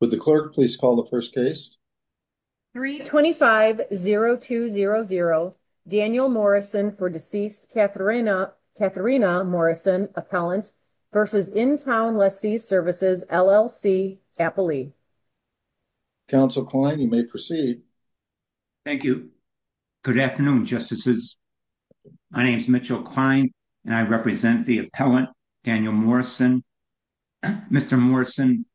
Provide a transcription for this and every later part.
Would the clerk please call the first case? 3-25-0200 Daniel Morrison for deceased Katharina Morrison, appellant, versus Intown Lessee Services, LLC, Tappalee. Counsel Klein, you may proceed. Thank you. Good afternoon, Justices. My name is Mitchell Klein, and I represent the appellant, Daniel Morrison. Mr. Morrison,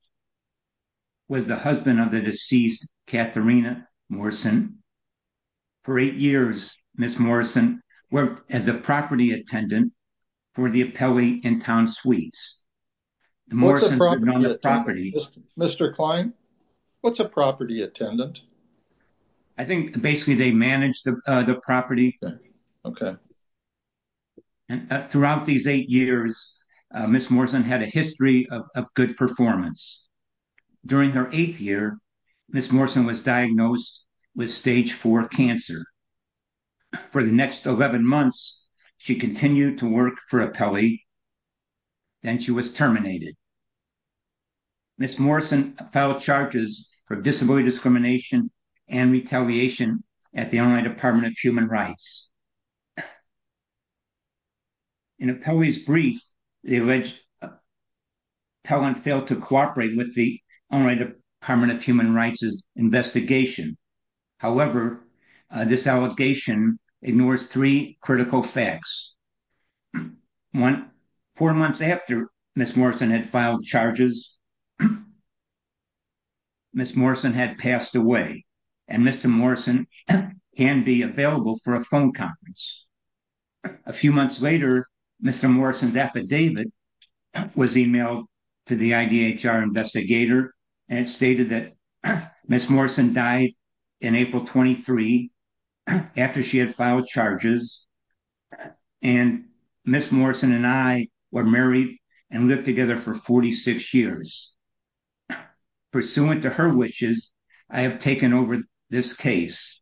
was the husband of the deceased Katharina Morrison. For eight years, Ms. Morrison worked as a property attendant for the appellate in town suites. Mr. Klein, what's a property attendant? I think basically they manage the property. And throughout these eight years, Ms. Morrison had a history of good performance. During her eighth year, Ms. Morrison was diagnosed with stage four cancer. For the next 11 months, she continued to work for appellate, then she was terminated. Ms. Morrison filed charges for disability discrimination and retaliation at the online Department of Human Rights. In an appellee's brief, the alleged appellant failed to cooperate with the online Department of Human Rights' investigation. However, this allegation ignores three critical facts. One, four months after Ms. Morrison had filed charges, Ms. Morrison had passed away, and Mr. Morrison can be available for a phone conference. A few months later, Mr. Morrison's affidavit was emailed to the IDHR investigator, and it stated that Ms. Morrison died in April 23, after she had filed charges, and Ms. Morrison and I were married and lived together for 46 years. Pursuant to her wishes, I have taken over this case.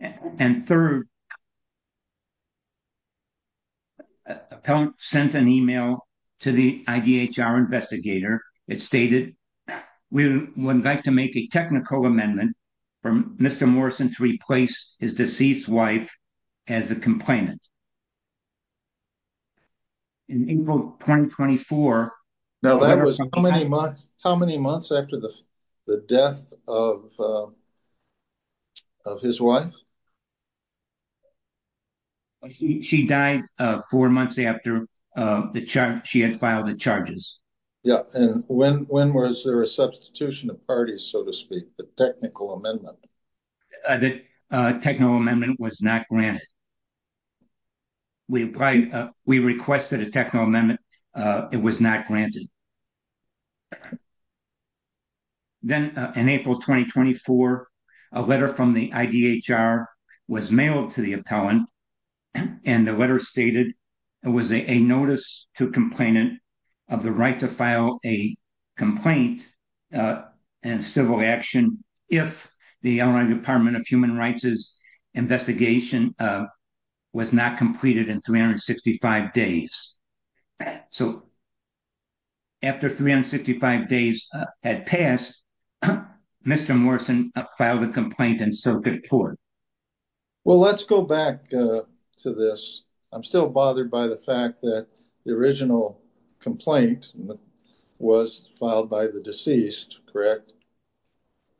And third, the appellant sent an email to the IDHR investigator. It stated, we would like to make a technical amendment for Mr. Morrison to replace his deceased wife as a complainant. In April 2024... Now, that was how many months after the death of his wife? She died four months after she had filed the charges. Yeah, and when was there a substitution of parties, so to speak, the technical amendment? The technical amendment was not granted. We requested a technical amendment. It was not granted. Then, in April 2024, a letter from the IDHR was mailed to the appellant, and the letter stated, it was a notice to a complainant of the right to file a complaint in civil action, if the Illinois Department of Human Rights' investigation was not completed in 365 days. So, after 365 days had passed, Mr. Morrison filed a complaint in circuit court. Well, let's go back to this. I'm still bothered by the fact that the original complaint was filed by the deceased, correct?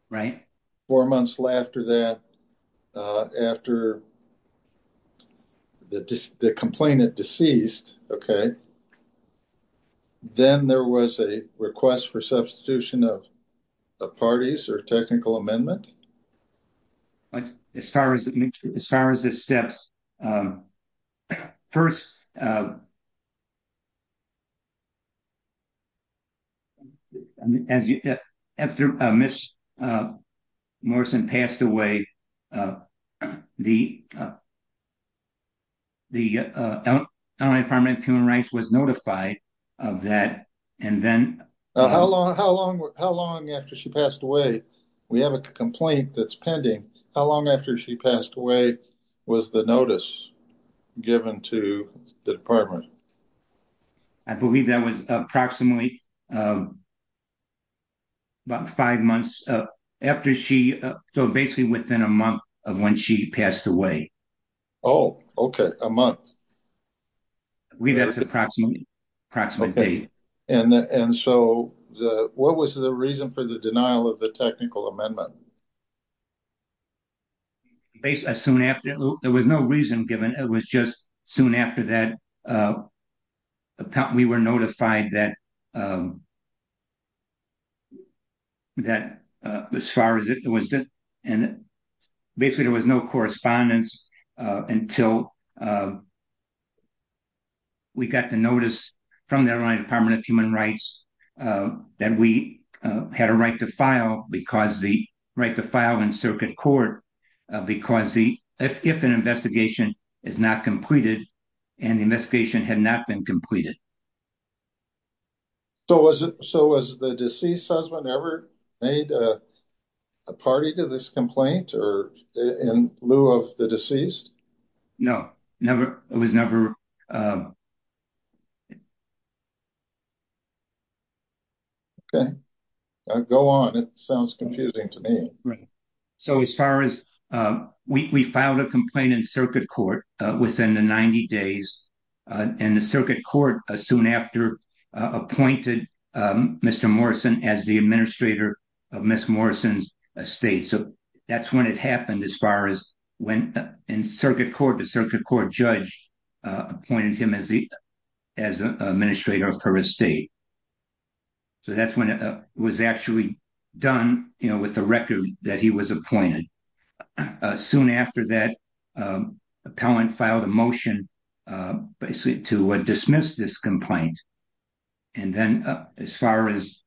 Right. Four months after that, after the complainant deceased, okay, then there was a request for substitution of parties or technical amendment? As far as the steps, first, after Ms. Morrison passed away, the Illinois Department of Human Rights was notified of that, and then... How long after she passed away, we have a complaint that's pending, how long after she passed away was the notice given to the department? I believe that was approximately about five months after she, so basically within a month of when she passed away. Oh, okay, a month. We have an approximate date. And so, what was the reason for the denial of the technical amendment? There was no reason given, it was just soon after that, we were notified that as far as it was... And basically, there was no correspondence until we got the notice from the Illinois Department of Human Rights that we had a right to file because the right to file in circuit court, because if an investigation is not completed, and the investigation had not been completed, it would not have been considered. So, was the deceased husband ever made a party to this complaint in lieu of the deceased? No, it was never... Okay, go on, it sounds confusing to me. So, as far as... We filed a complaint in circuit court within the 90 days, and the circuit court soon after appointed Mr. Morrison as the administrator of Ms. Morrison's estate. So, that's when it happened as far as when in circuit court, the circuit court judge appointed him as the administrator of her estate. So, that's when it was actually done with the basically to dismiss this complaint. And then, as far as...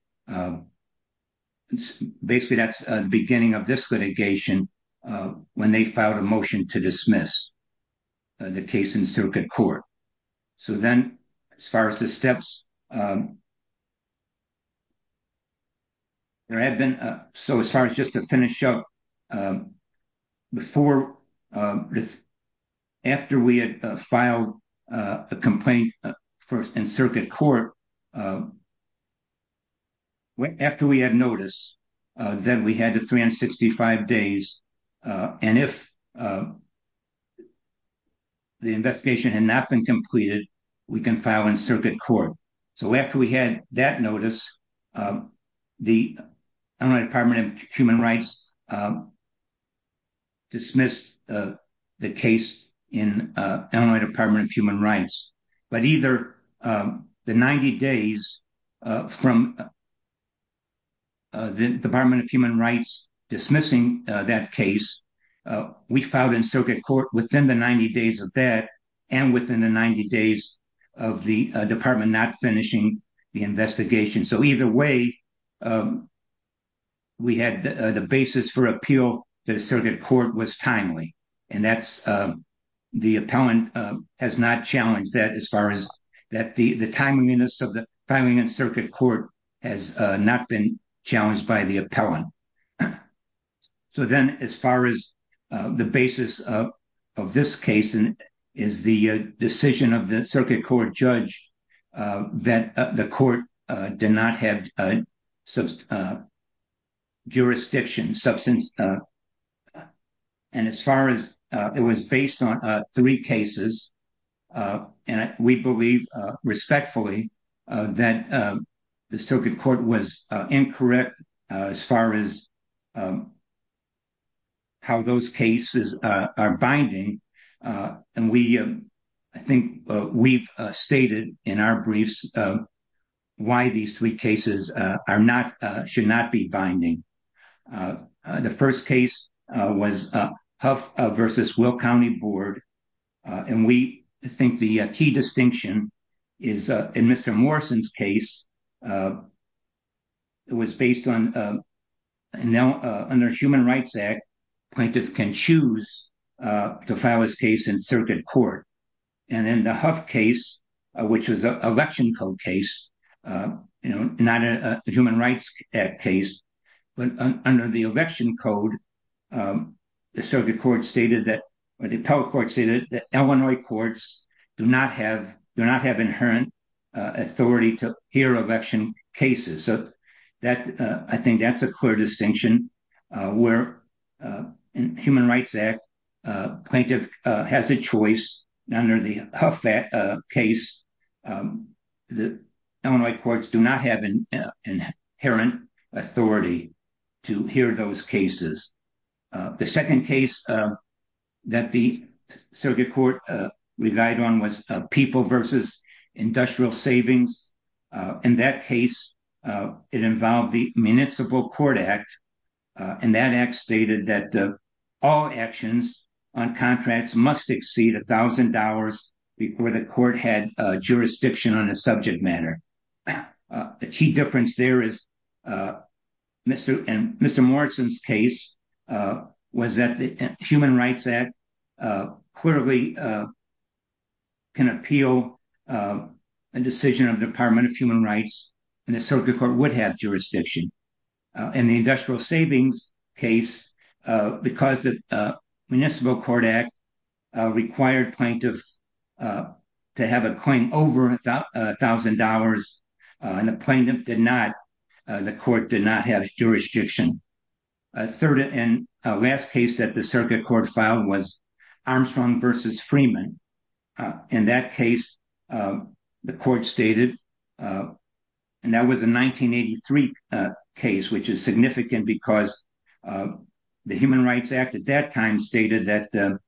Basically, that's the beginning of this litigation when they filed a motion to dismiss the case in circuit court. So then, as far as the steps, there had been... So, as far as just to finish up, before... After we had filed a complaint in circuit court, after we had notice, then we had the 365 days. And if the investigation had not been completed, we can file in circuit court. So, after we had that notice, the Illinois Department of Human Rights dismissed the case in Illinois Department of Human Rights. But either the 90 days from the Department of Human Rights dismissing that case, we filed in circuit court within the 90 days of that, and within the 90 days of the department not finishing the investigation. So, either way, we had the basis for appeal that circuit court was timely. And that's... The appellant has not challenged that as far as... That the timeliness of the filing in circuit court has not been challenged by the appellant. So then, as far as the basis of this case is the decision of the circuit court judge that the court did not have jurisdiction, substance... And as far as... It was based on three cases, and we believe respectfully that the circuit court was incorrect as far as how those cases are binding. And we... I think we've stated in our briefs why these three cases are not... Should not be binding. The first case was Huff versus Will County Board. And we think the key distinction is in Mr. Morrison's case, it was based on... Now, under Human Rights Act, plaintiff can choose to file his case in circuit court. And in the Huff case, which was an election code case, not a Human Rights Act case, but under election code, the circuit court stated that... Or the appellate court stated that Illinois courts do not have... Do not have inherent authority to hear election cases. So that... I think that's a clear distinction where in Human Rights Act, plaintiff has a choice under the Huff case. The Illinois courts do not have an inherent authority to hear those cases. The second case that the circuit court relied on was People versus Industrial Savings. In that case, it involved the Municipal Court Act. And that act stated that all actions on contracts must exceed $1,000 before the court had jurisdiction on a subject matter. The key difference there is... In Mr. Morrison's case was that the Human Rights Act clearly can appeal a decision of the Department of Human Rights and the circuit court would have jurisdiction. In the Industrial Savings case, because the Municipal Court Act required plaintiffs to have a claim over $1,000, and the plaintiff did not... The court did not have jurisdiction. Third and last case that the circuit court filed was Armstrong versus Freeman. In that case, the court stated... And that was a 1983 case, which is significant because the Human Rights Act at that time stated that the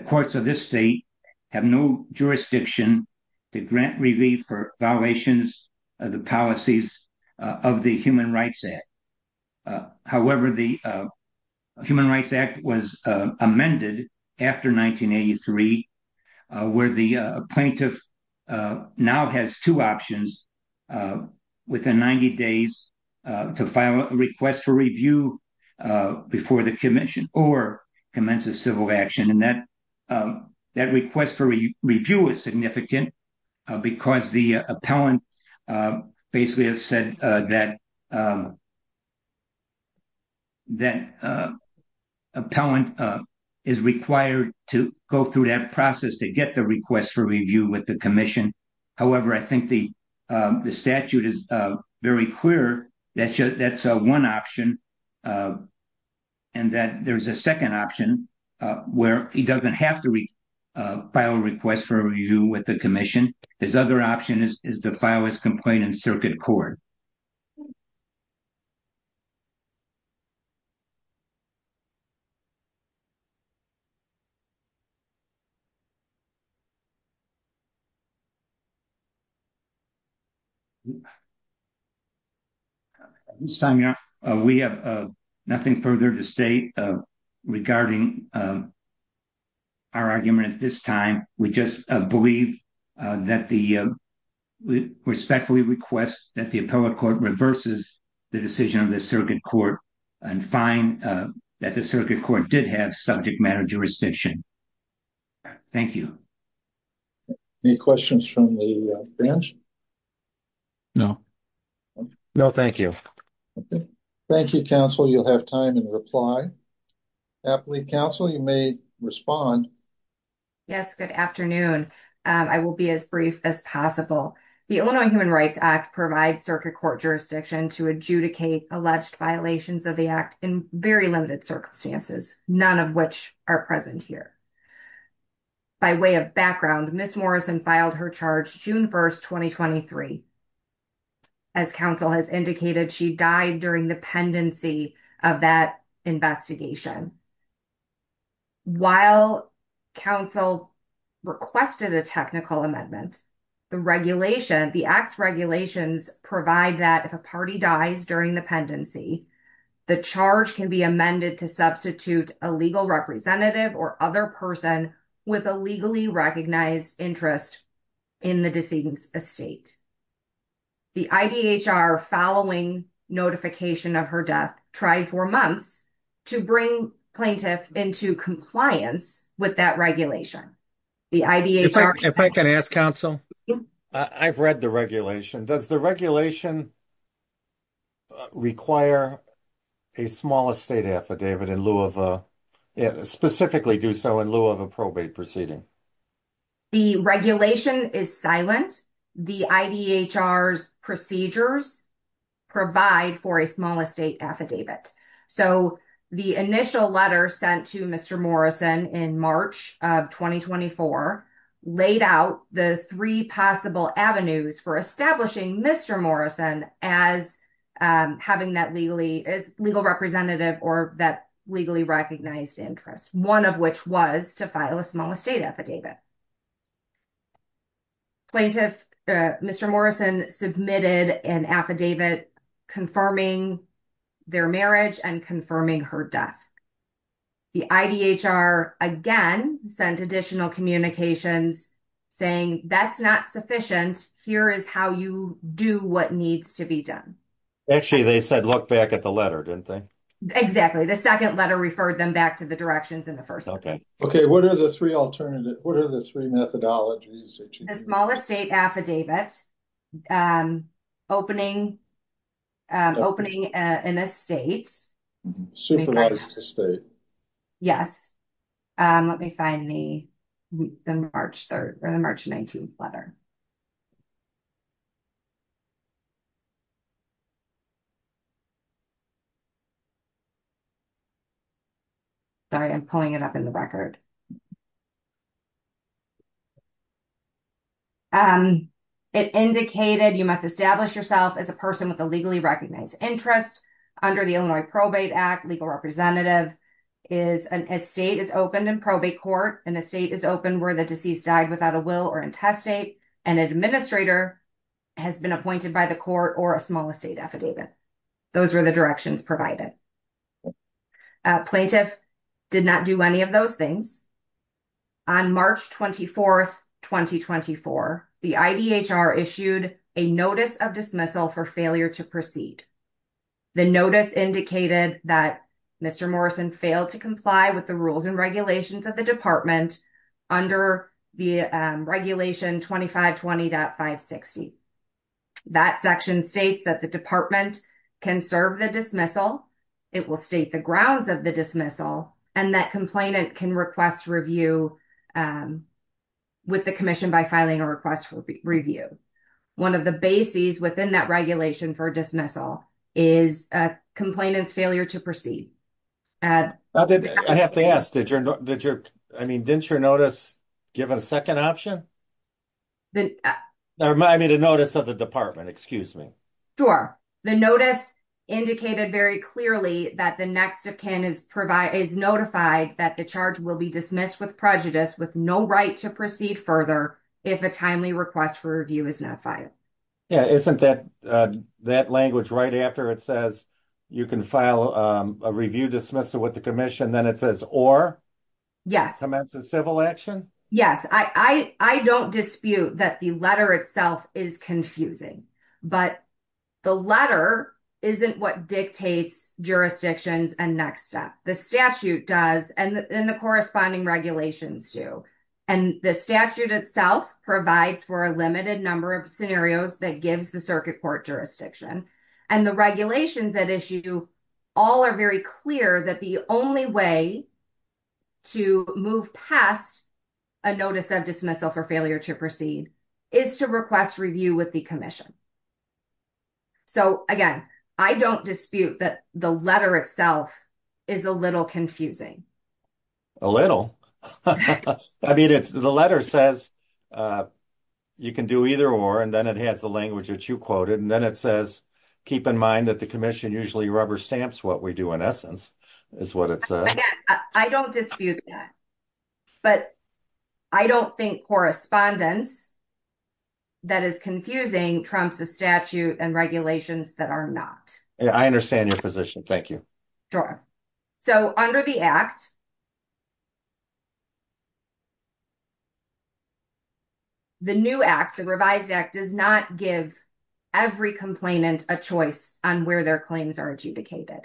courts of this state have no jurisdiction to grant relief for violations of the policies of the Human Rights Act. However, the plaintiff now has two options within 90 days to file a request for review before the commission or commence a civil action. And that request for review is significant because the appellant basically has said that... That appellant is required to go through that process to get the request for review with the commission. However, I think the statute is very clear that that's one option and that there's a second option where he doesn't have to file a request for review with the commission. His other option is to file his complaint in circuit court. At this time, we have nothing further to state regarding our argument at this time. We just believe that the... Respectfully request that the appellate court reverses the decision of the circuit court and find that the circuit court did have subject matter jurisdiction. Thank you. Any questions from the branch? No. No, thank you. Thank you, counsel. You'll have time to reply. Appellate counsel, you may respond. Yes, good afternoon. I will be as brief as possible. The Illinois Human Rights Act provides circuit court jurisdiction to adjudicate alleged violations of the act in very limited circumstances, none of which are present here. By way of background, Ms. Morrison filed her charge June 1st, 2023. As counsel has indicated, she died during the pendency of that investigation. While counsel requested a technical amendment, the regulation, the acts regulations provide that if a party dies during the pendency, the charge can be amended to substitute a legal representative or other person with a legally recognized interest in the deceased's estate. The IDHR following notification of her death tried for months to bring plaintiff into compliance with that regulation. The IDHR... If I can ask counsel... I've read the regulation. Does the regulation require a small estate affidavit in lieu of a... Specifically do so in lieu of a probate proceeding? The regulation is silent. The IDHR's procedures provide for a small estate affidavit. So, the initial letter sent to Mr. Morrison in March of 2024 laid out the three possible avenues for establishing Mr. Morrison as having that legal representative or that legally recognized interest, one of which was to file a small estate affidavit. Plaintiff Mr. Morrison submitted an affidavit confirming their marriage and confirming her death. The IDHR again sent additional communications saying that's not sufficient. Here is how you do what needs to be done. Actually, they said look back at the letter, didn't they? Exactly. The second letter referred them back to the directions in the first letter. Okay, what are the three methodologies? A small estate affidavit, opening an estate. Supervised estate. Yes. Let me find the March 19th letter. Sorry, I'm pulling it up in the record. It indicated you must establish yourself as a person with a legally recognized interest under the Illinois Probate Act. Legal representative is an estate is opened in probate court. An estate is open where the deceased died without a will or intestate. An administrator has been appointed by the court or a small estate affidavit. Those were the directions provided. Plaintiff did not do any of those things. On March 24th, 2024, the IDHR issued a notice of dismissal for failure to proceed. The notice indicated that Mr. Morrison failed to comply with the rules and regulations of the department under the regulation 2520.560. That section states that the department can serve the dismissal. It will state the grounds of the dismissal and that complainant can request review with the commission by filing a request for review. One of the bases within that regulation for dismissal is a complainant's failure to proceed. I have to ask, didn't your notice give a second option? Remind me the notice of the department, excuse me. Sure, the notice indicated very clearly that the next of kin is notified that the charge will be dismissed with prejudice with no right to proceed further if a timely request for review is not filed. Yeah, isn't that language right after it says you can file a review dismissal with the commission then it says or? Yes. Commence a civil action? Yes, I don't dispute that the letter itself is confusing, but the letter isn't what dictates jurisdictions and next step. The statute does and the corresponding regulations do. The statute itself provides for a limited number of scenarios that gives the circuit court jurisdiction and the regulations at issue all are very clear that the only way to move past a notice of dismissal for failure to proceed is to request review with the commission. So again, I don't dispute that the letter itself is a little confusing. A little? I mean, it's the letter says you can do either or and then it has the language that you quoted and then it says keep in mind that the commission usually rubber stamps what we do in essence is what it says. I don't dispute that, but I don't think correspondence that is confusing trumps the statute and regulations that are not. I understand your position, thank you. Sure, so under the act. The new act, the revised act does not give every complainant a choice on where their claims are adjudicated.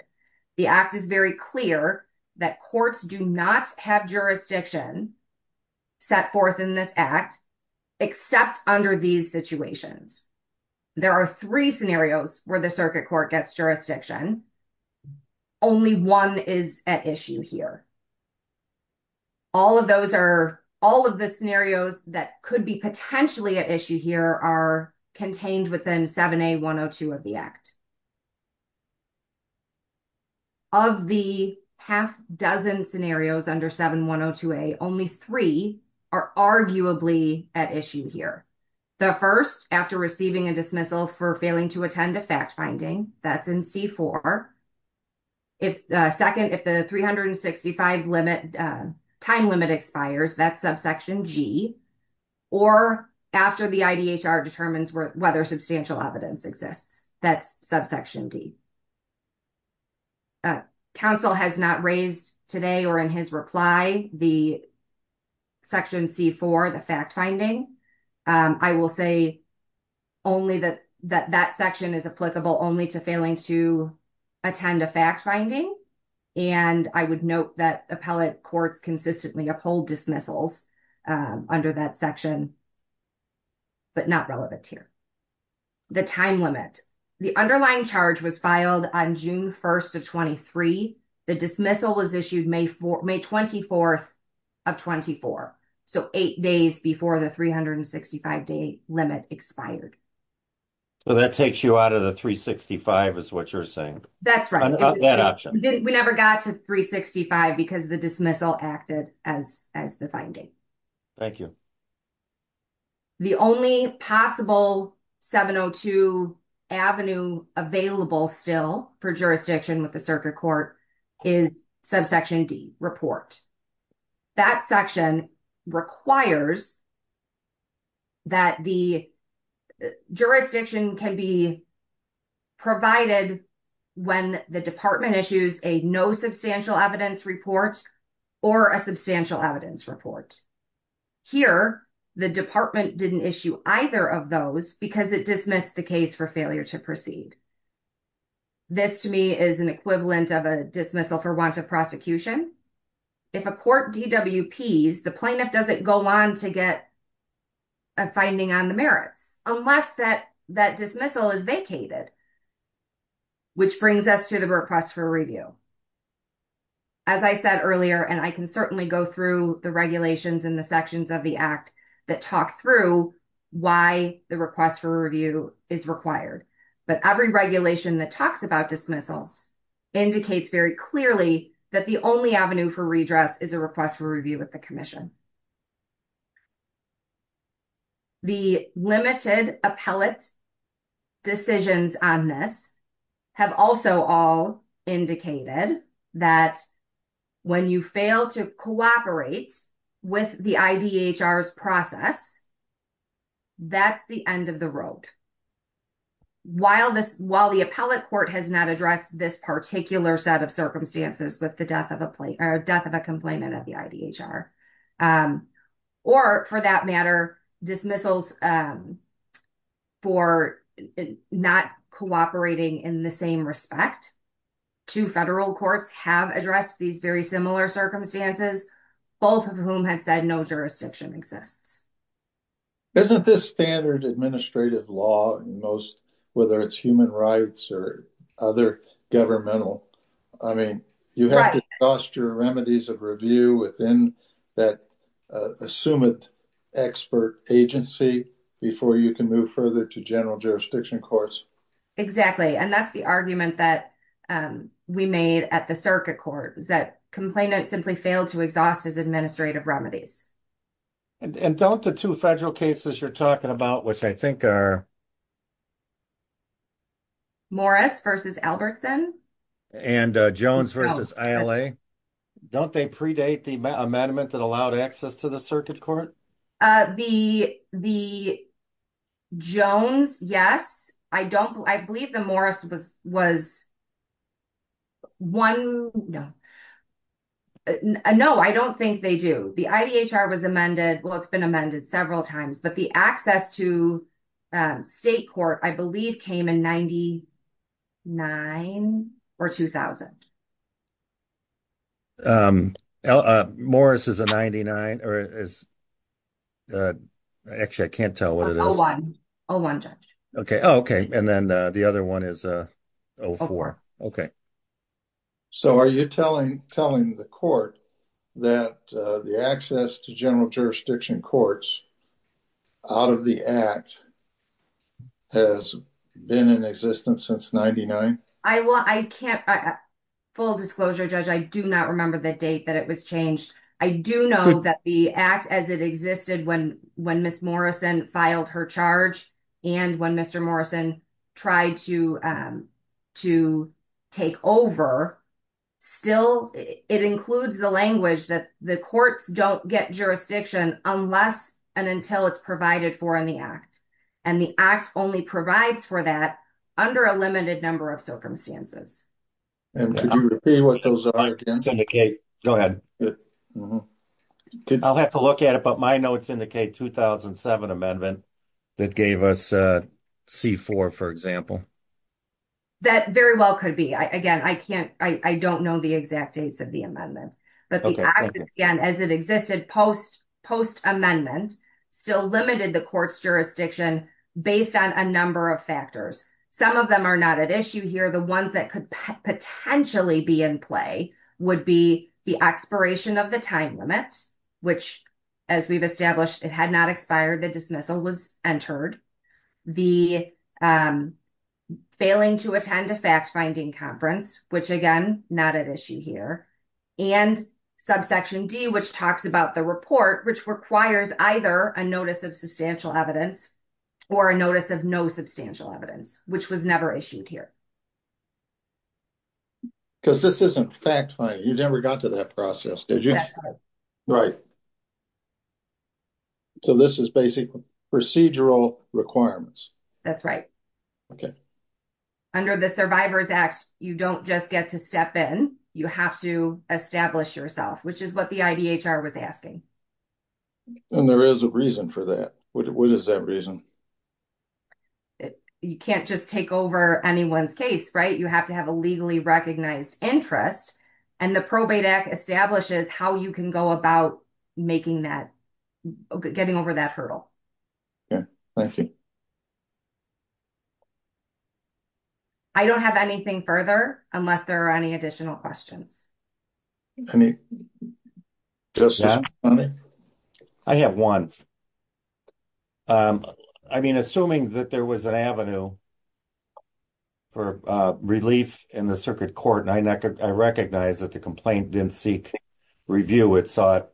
The act is very clear that courts do not have jurisdiction set forth in this act except under these situations. There are three scenarios where the circuit court gets jurisdiction only one is at issue here. All of those are all of the scenarios that could be potentially at issue here are contained within 7A102 of the act. Of the half dozen scenarios under 7102A, only three are arguably at issue here. The first after receiving a dismissal for failing to attend a fact finding that's in C4. If the second if the 365 limit time limit expires that subsection G or after the IDHR determines whether substantial evidence exists that's subsection D. Council has not raised today or in his reply the section C4 the fact finding. I will say only that that section is applicable only to failing to attend a fact finding and I would note that appellate courts consistently uphold dismissals under that section but not relevant here. The time limit the underlying charge was filed on June 1st of 23. The dismissal was issued May 24th of 24. So eight days before the 365 day limit expired. Well that takes you out of the 365 is what you're saying. That's right. We never got to 365 because the dismissal acted as as the finding. Thank you. The only possible 702 avenue available still for jurisdiction with the circuit court is subsection D report. That section requires that the jurisdiction can be provided when the department issues a no substantial evidence report or a substantial evidence report. Here the department didn't issue either of those because it dismissed the case for failure to proceed. This to me is an equivalent of a dismissal for want of prosecution. If a court DWPs the plaintiff doesn't go on to get a finding on the merits unless that that dismissal is vacated which brings us to the request for review. As I said earlier and I can certainly go through the regulations in the sections of the act that talk through why the request for review is required. But every regulation that talks about dismissals indicates very clearly that the only avenue for redress is a request for review with the commission. The limited appellate decisions on this have also all indicated that when you fail to cooperate with the IDHR's process that's the end of the road. While this while the appellate court has not addressed this particular set of circumstances with the death of a complaint or death of a complainant of the IDHR or for that matter dismissals for not cooperating in the same respect. Two federal courts have addressed these very similar circumstances both of whom had said no jurisdiction exists. Isn't this standard administrative law most whether it's human rights or other governmental? I mean you have to exhaust your remedies of review within that assumed expert agency before you can move further to general jurisdiction courts. Exactly and that's the argument that we made at the circuit court is that complainant simply failed to exhaust his administrative remedies. And don't the two federal cases you're talking about which I think are Morris versus Albertson and Jones versus ILA don't they predate the amendment that allowed access to the circuit court? The Jones yes. I don't I believe the Morris was was one no no I don't think they do. The IDHR was amended well it's been amended several times but the access to state court I believe came in 99 or 2000. Morris is a 99 or is actually I can't what it is. Okay and then the other one is a 04. Okay so are you telling telling the court that the access to general jurisdiction courts out of the act has been in existence since 99? I will I can't full disclosure judge I do not remember the date that it was changed. I do know that the act as it existed when when Miss Morrison filed her charge and when Mr. Morrison tried to to take over still it includes the language that the courts don't get jurisdiction unless and until it's provided for in the act and the act only provides for that under a limited number of circumstances. Go ahead. I'll have to look at it but my notes indicate 2007 amendment that gave us a C4 for example. That very well could be I again I can't I don't know the exact dates of the amendment but the act again as it existed post post amendment still limited the jurisdiction based on a number of factors. Some of them are not at issue here the ones that could potentially be in play would be the expiration of the time limit which as we've established it had not expired the dismissal was entered. The failing to attend a fact-finding conference which again not at issue here and subsection d which talks about the report which requires either a notice of substantial evidence or a notice of no substantial evidence which was never issued here. Because this isn't fact-finding you never got to that process did you? Right. So this is basic procedural requirements. That's right. Okay under the Survivors Act you don't just get to step in you have to establish yourself which is what the IDHR was asking. And there is a reason for that. What is that reason? You can't just take over anyone's case right you have to have a legally recognized interest and the probate act establishes how you can go about making that getting over that hurdle. Okay thank you. I don't have anything further unless there are any additional questions. Any questions? I have one. I mean assuming that there was an avenue for relief in the circuit court and I recognize that the complaint didn't seek review it sought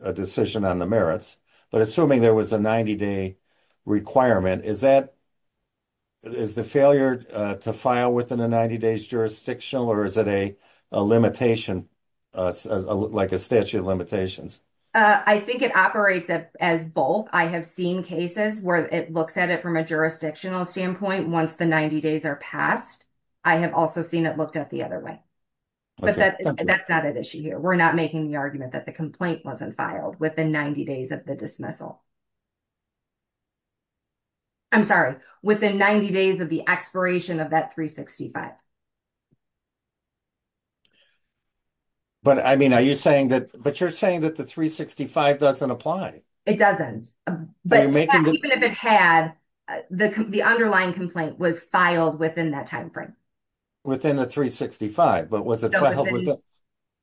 a decision on the merits but assuming there was a 90-day requirement is that is the failure to file within the 90 days jurisdictional or is it a limitation like a statute of limitations? I think it operates as both. I have seen cases where it looks at it from a jurisdictional standpoint once the 90 days are passed. I have also seen it looked at the other way but that that's not an issue here. We're not making the argument that the complaint wasn't filed within 90 days of the dismissal. I'm sorry within 90 days of the expiration of that 365. But I mean are you saying that but you're saying that the 365 doesn't apply? It doesn't but even if it had the underlying complaint was filed within that time frame. Within the 365 but was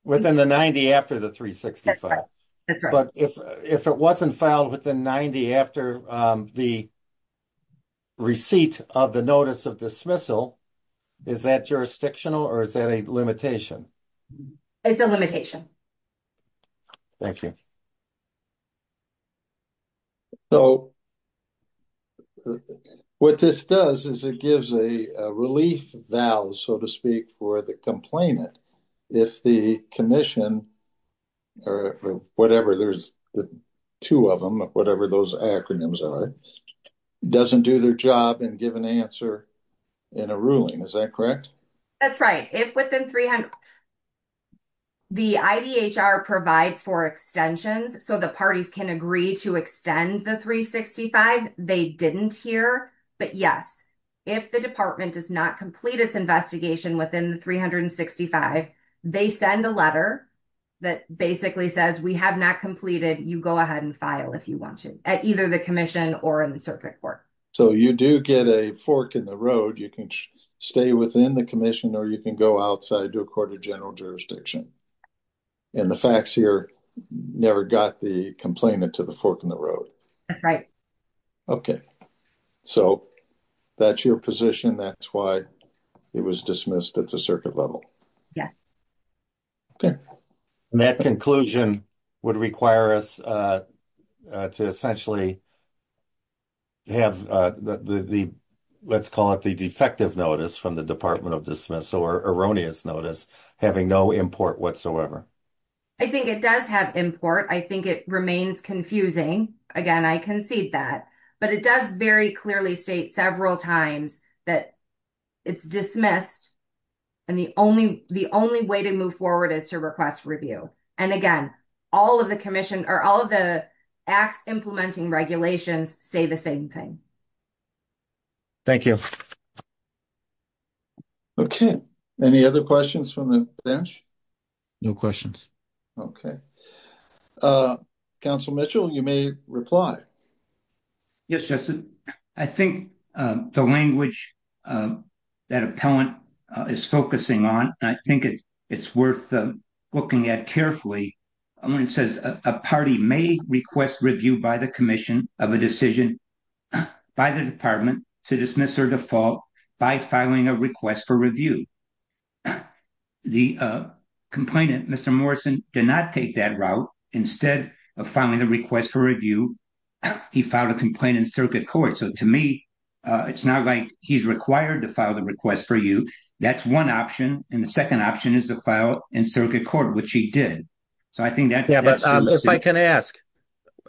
within the 90 after the 365 but if it wasn't filed within 90 after the receipt of the notice of dismissal is that jurisdictional or is that a limitation? It's a limitation. Thank you. So what this does is it gives a relief valve so to speak for the complainant if the commission or whatever there's the two of them whatever those acronyms are doesn't do their job and give an answer in a ruling. Is that correct? That's right. If within the IDHR provides for extensions so the parties can agree to extend the 365 they didn't here but yes if the department does not complete its investigation within the 365 they send a letter that basically says we have not completed you go ahead and file if you want to at either the commission or in the circuit court. So you do get a fork in the road you can stay within the commission or you can go outside to a court of general jurisdiction and the facts here never got the complainant to the fork in the road. That's right. Okay so that's your position that's why it was dismissed at the circuit level. Yes. Okay and that conclusion would require us to essentially have the let's call it the defective notice from the department of dismiss erroneous notice having no import whatsoever. I think it does have import I think it remains confusing again I concede that but it does very clearly state several times that it's dismissed and the only the only way to move forward is to request review and again all of the commission or all of the acts implementing regulations say the same thing. Thank you. Okay any other questions from the bench? No questions. Okay uh council Mitchell you may reply. Yes Justin I think the language that appellant is focusing on I think it's worth looking at carefully when it says a party may request review by the commission of a decision by the department to dismiss or default by filing a request for review. The complainant Mr. Morrison did not take that route instead of filing a request for review he filed a complaint in circuit court so to me it's not like he's required to file the request for you that's one option and the second option is to file in circuit court which he did so I think that yeah but if I can ask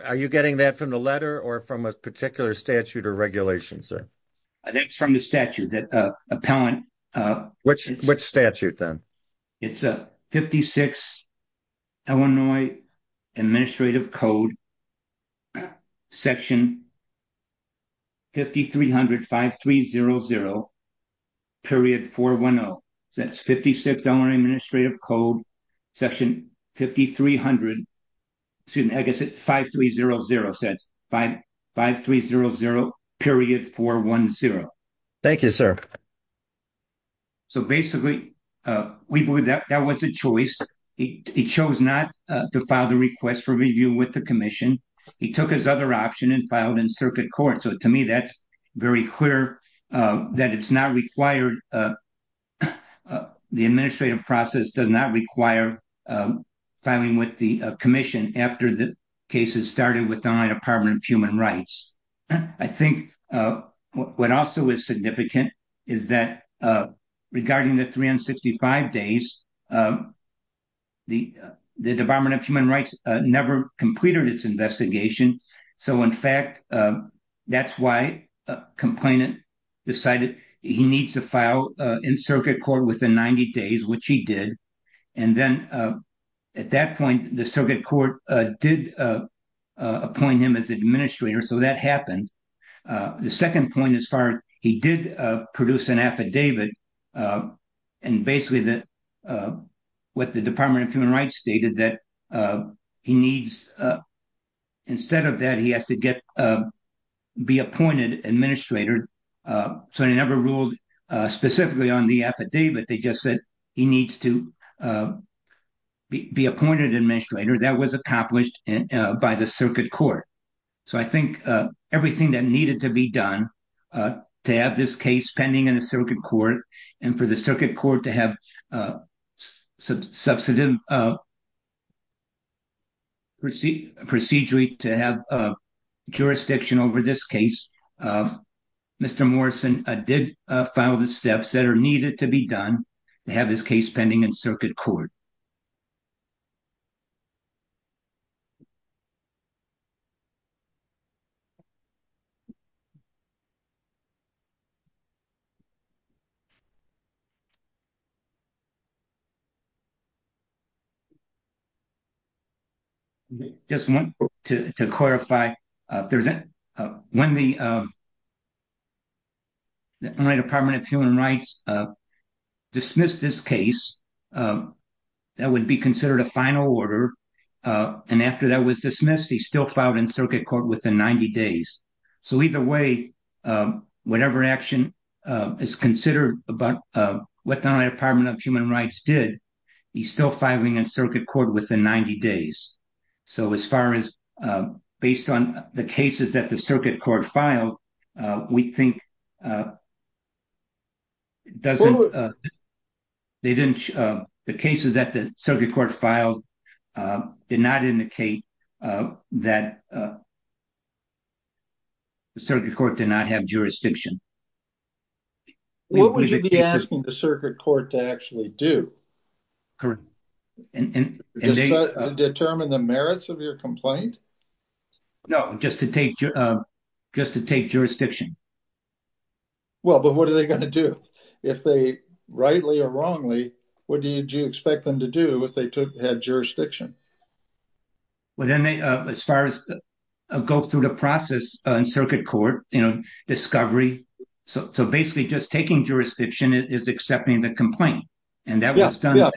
are you statute or regulation sir? I think it's from the statute that uh appellant uh which which statute then it's a 56 Illinois administrative code section 5300 5300 period 410 that's 56 only administrative code section 5300 excuse me I guess it's 5300 says 5500 period 410. Thank you sir. So basically uh we believe that that was a choice he chose not to file the request for review with the commission he took his other option and filed in circuit court so to me that's very clear uh it's not required uh the administrative process does not require uh filing with the commission after the case has started with the department of human rights I think uh what also is significant is that uh regarding the 365 days uh the the department of human rights uh never completed its investigation so in fact uh that's why a complainant decided he needs to file uh in circuit court within 90 days which he did and then uh at that point the circuit court uh did uh uh appoint him as administrator so that happened uh the second point as far as he did uh produce an affidavit uh and basically that uh what the department of human rights stated that uh he needs uh instead of that he has to get uh be appointed administrator uh so he never ruled uh specifically on the affidavit they just said he needs to uh be appointed administrator that was accomplished and uh by the circuit court so I think uh everything that needed to be done uh to have this case pending in a circuit court and for the circuit court to have a substantive uh proceed procedurally to have a jurisdiction over this case uh Mr. Morrison uh did uh follow the steps that are needed to be done to have this case pending in circuit court you just want to to clarify uh there's uh when the um my department of human rights uh dismissed this case um that would be considered a final order uh and after that was dismissed he still filed in circuit court within 90 days so either way um whatever action uh is considered about uh what the department of human rights did he's still filing in circuit court within 90 days so as far as uh based on the cases that the circuit court filed uh we think uh doesn't uh they didn't uh the cases that the circuit court filed uh did not indicate uh that the circuit court did not have jurisdiction what would you be asking the circuit court to actually do correct and determine the merits of your complaint no just to take uh just to take jurisdiction well but what are they going to do if they rightly or wrongly what did you expect them to do if they had jurisdiction well then they uh as far as go through the process in circuit court you know discovery so so basically just taking jurisdiction is accepting the complaint and that was done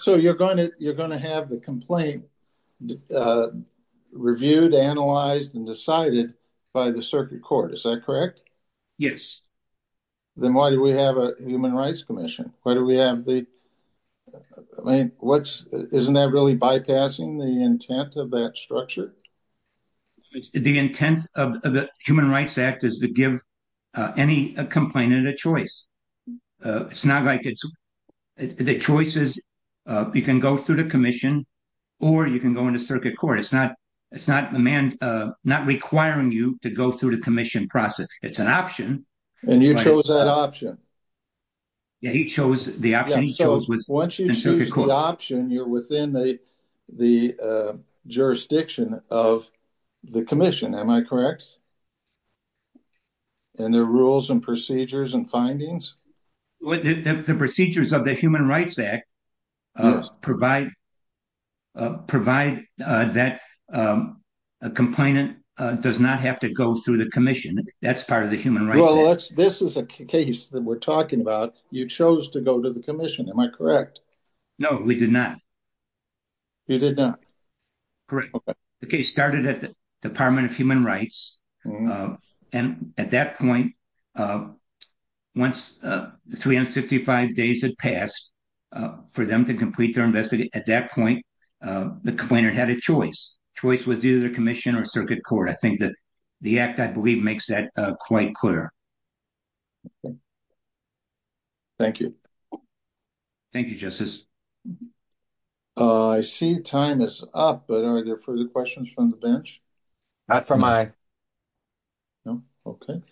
so you're going to you're going to have the complaint reviewed analyzed and decided by the circuit court is that correct yes then why do we have a human rights commission why do we have the i mean what's isn't that really bypassing the intent of that structure the intent of the human rights act is to give uh any complainant a choice it's not like it's the choices uh you can go through the commission or you can go into circuit court it's not it's not the man uh not requiring you to go through the commission process it's an and you chose that option yeah he chose the option he chose once you choose the option you're within the the uh jurisdiction of the commission am i correct and their rules and procedures and findings the procedures of the human rights act provide uh provide uh that um a complainant uh does not have to go through the commission that's part of the human rights this is a case that we're talking about you chose to go to the commission am i correct no we did not you did not correct okay the case started at the department of human rights uh and at that point uh once uh 355 days had passed uh for them to complete their investigation at that point uh the complainant had a choice choice was either commission or circuit court i think that the act i believe makes that uh quite clear thank you thank you justice uh i see time is up but are there further questions from the bench not for my no okay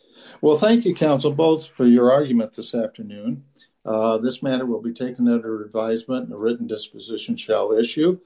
well thank you counsel both for your argument this afternoon uh this matter will be taken under advisement and a written disposition shall issue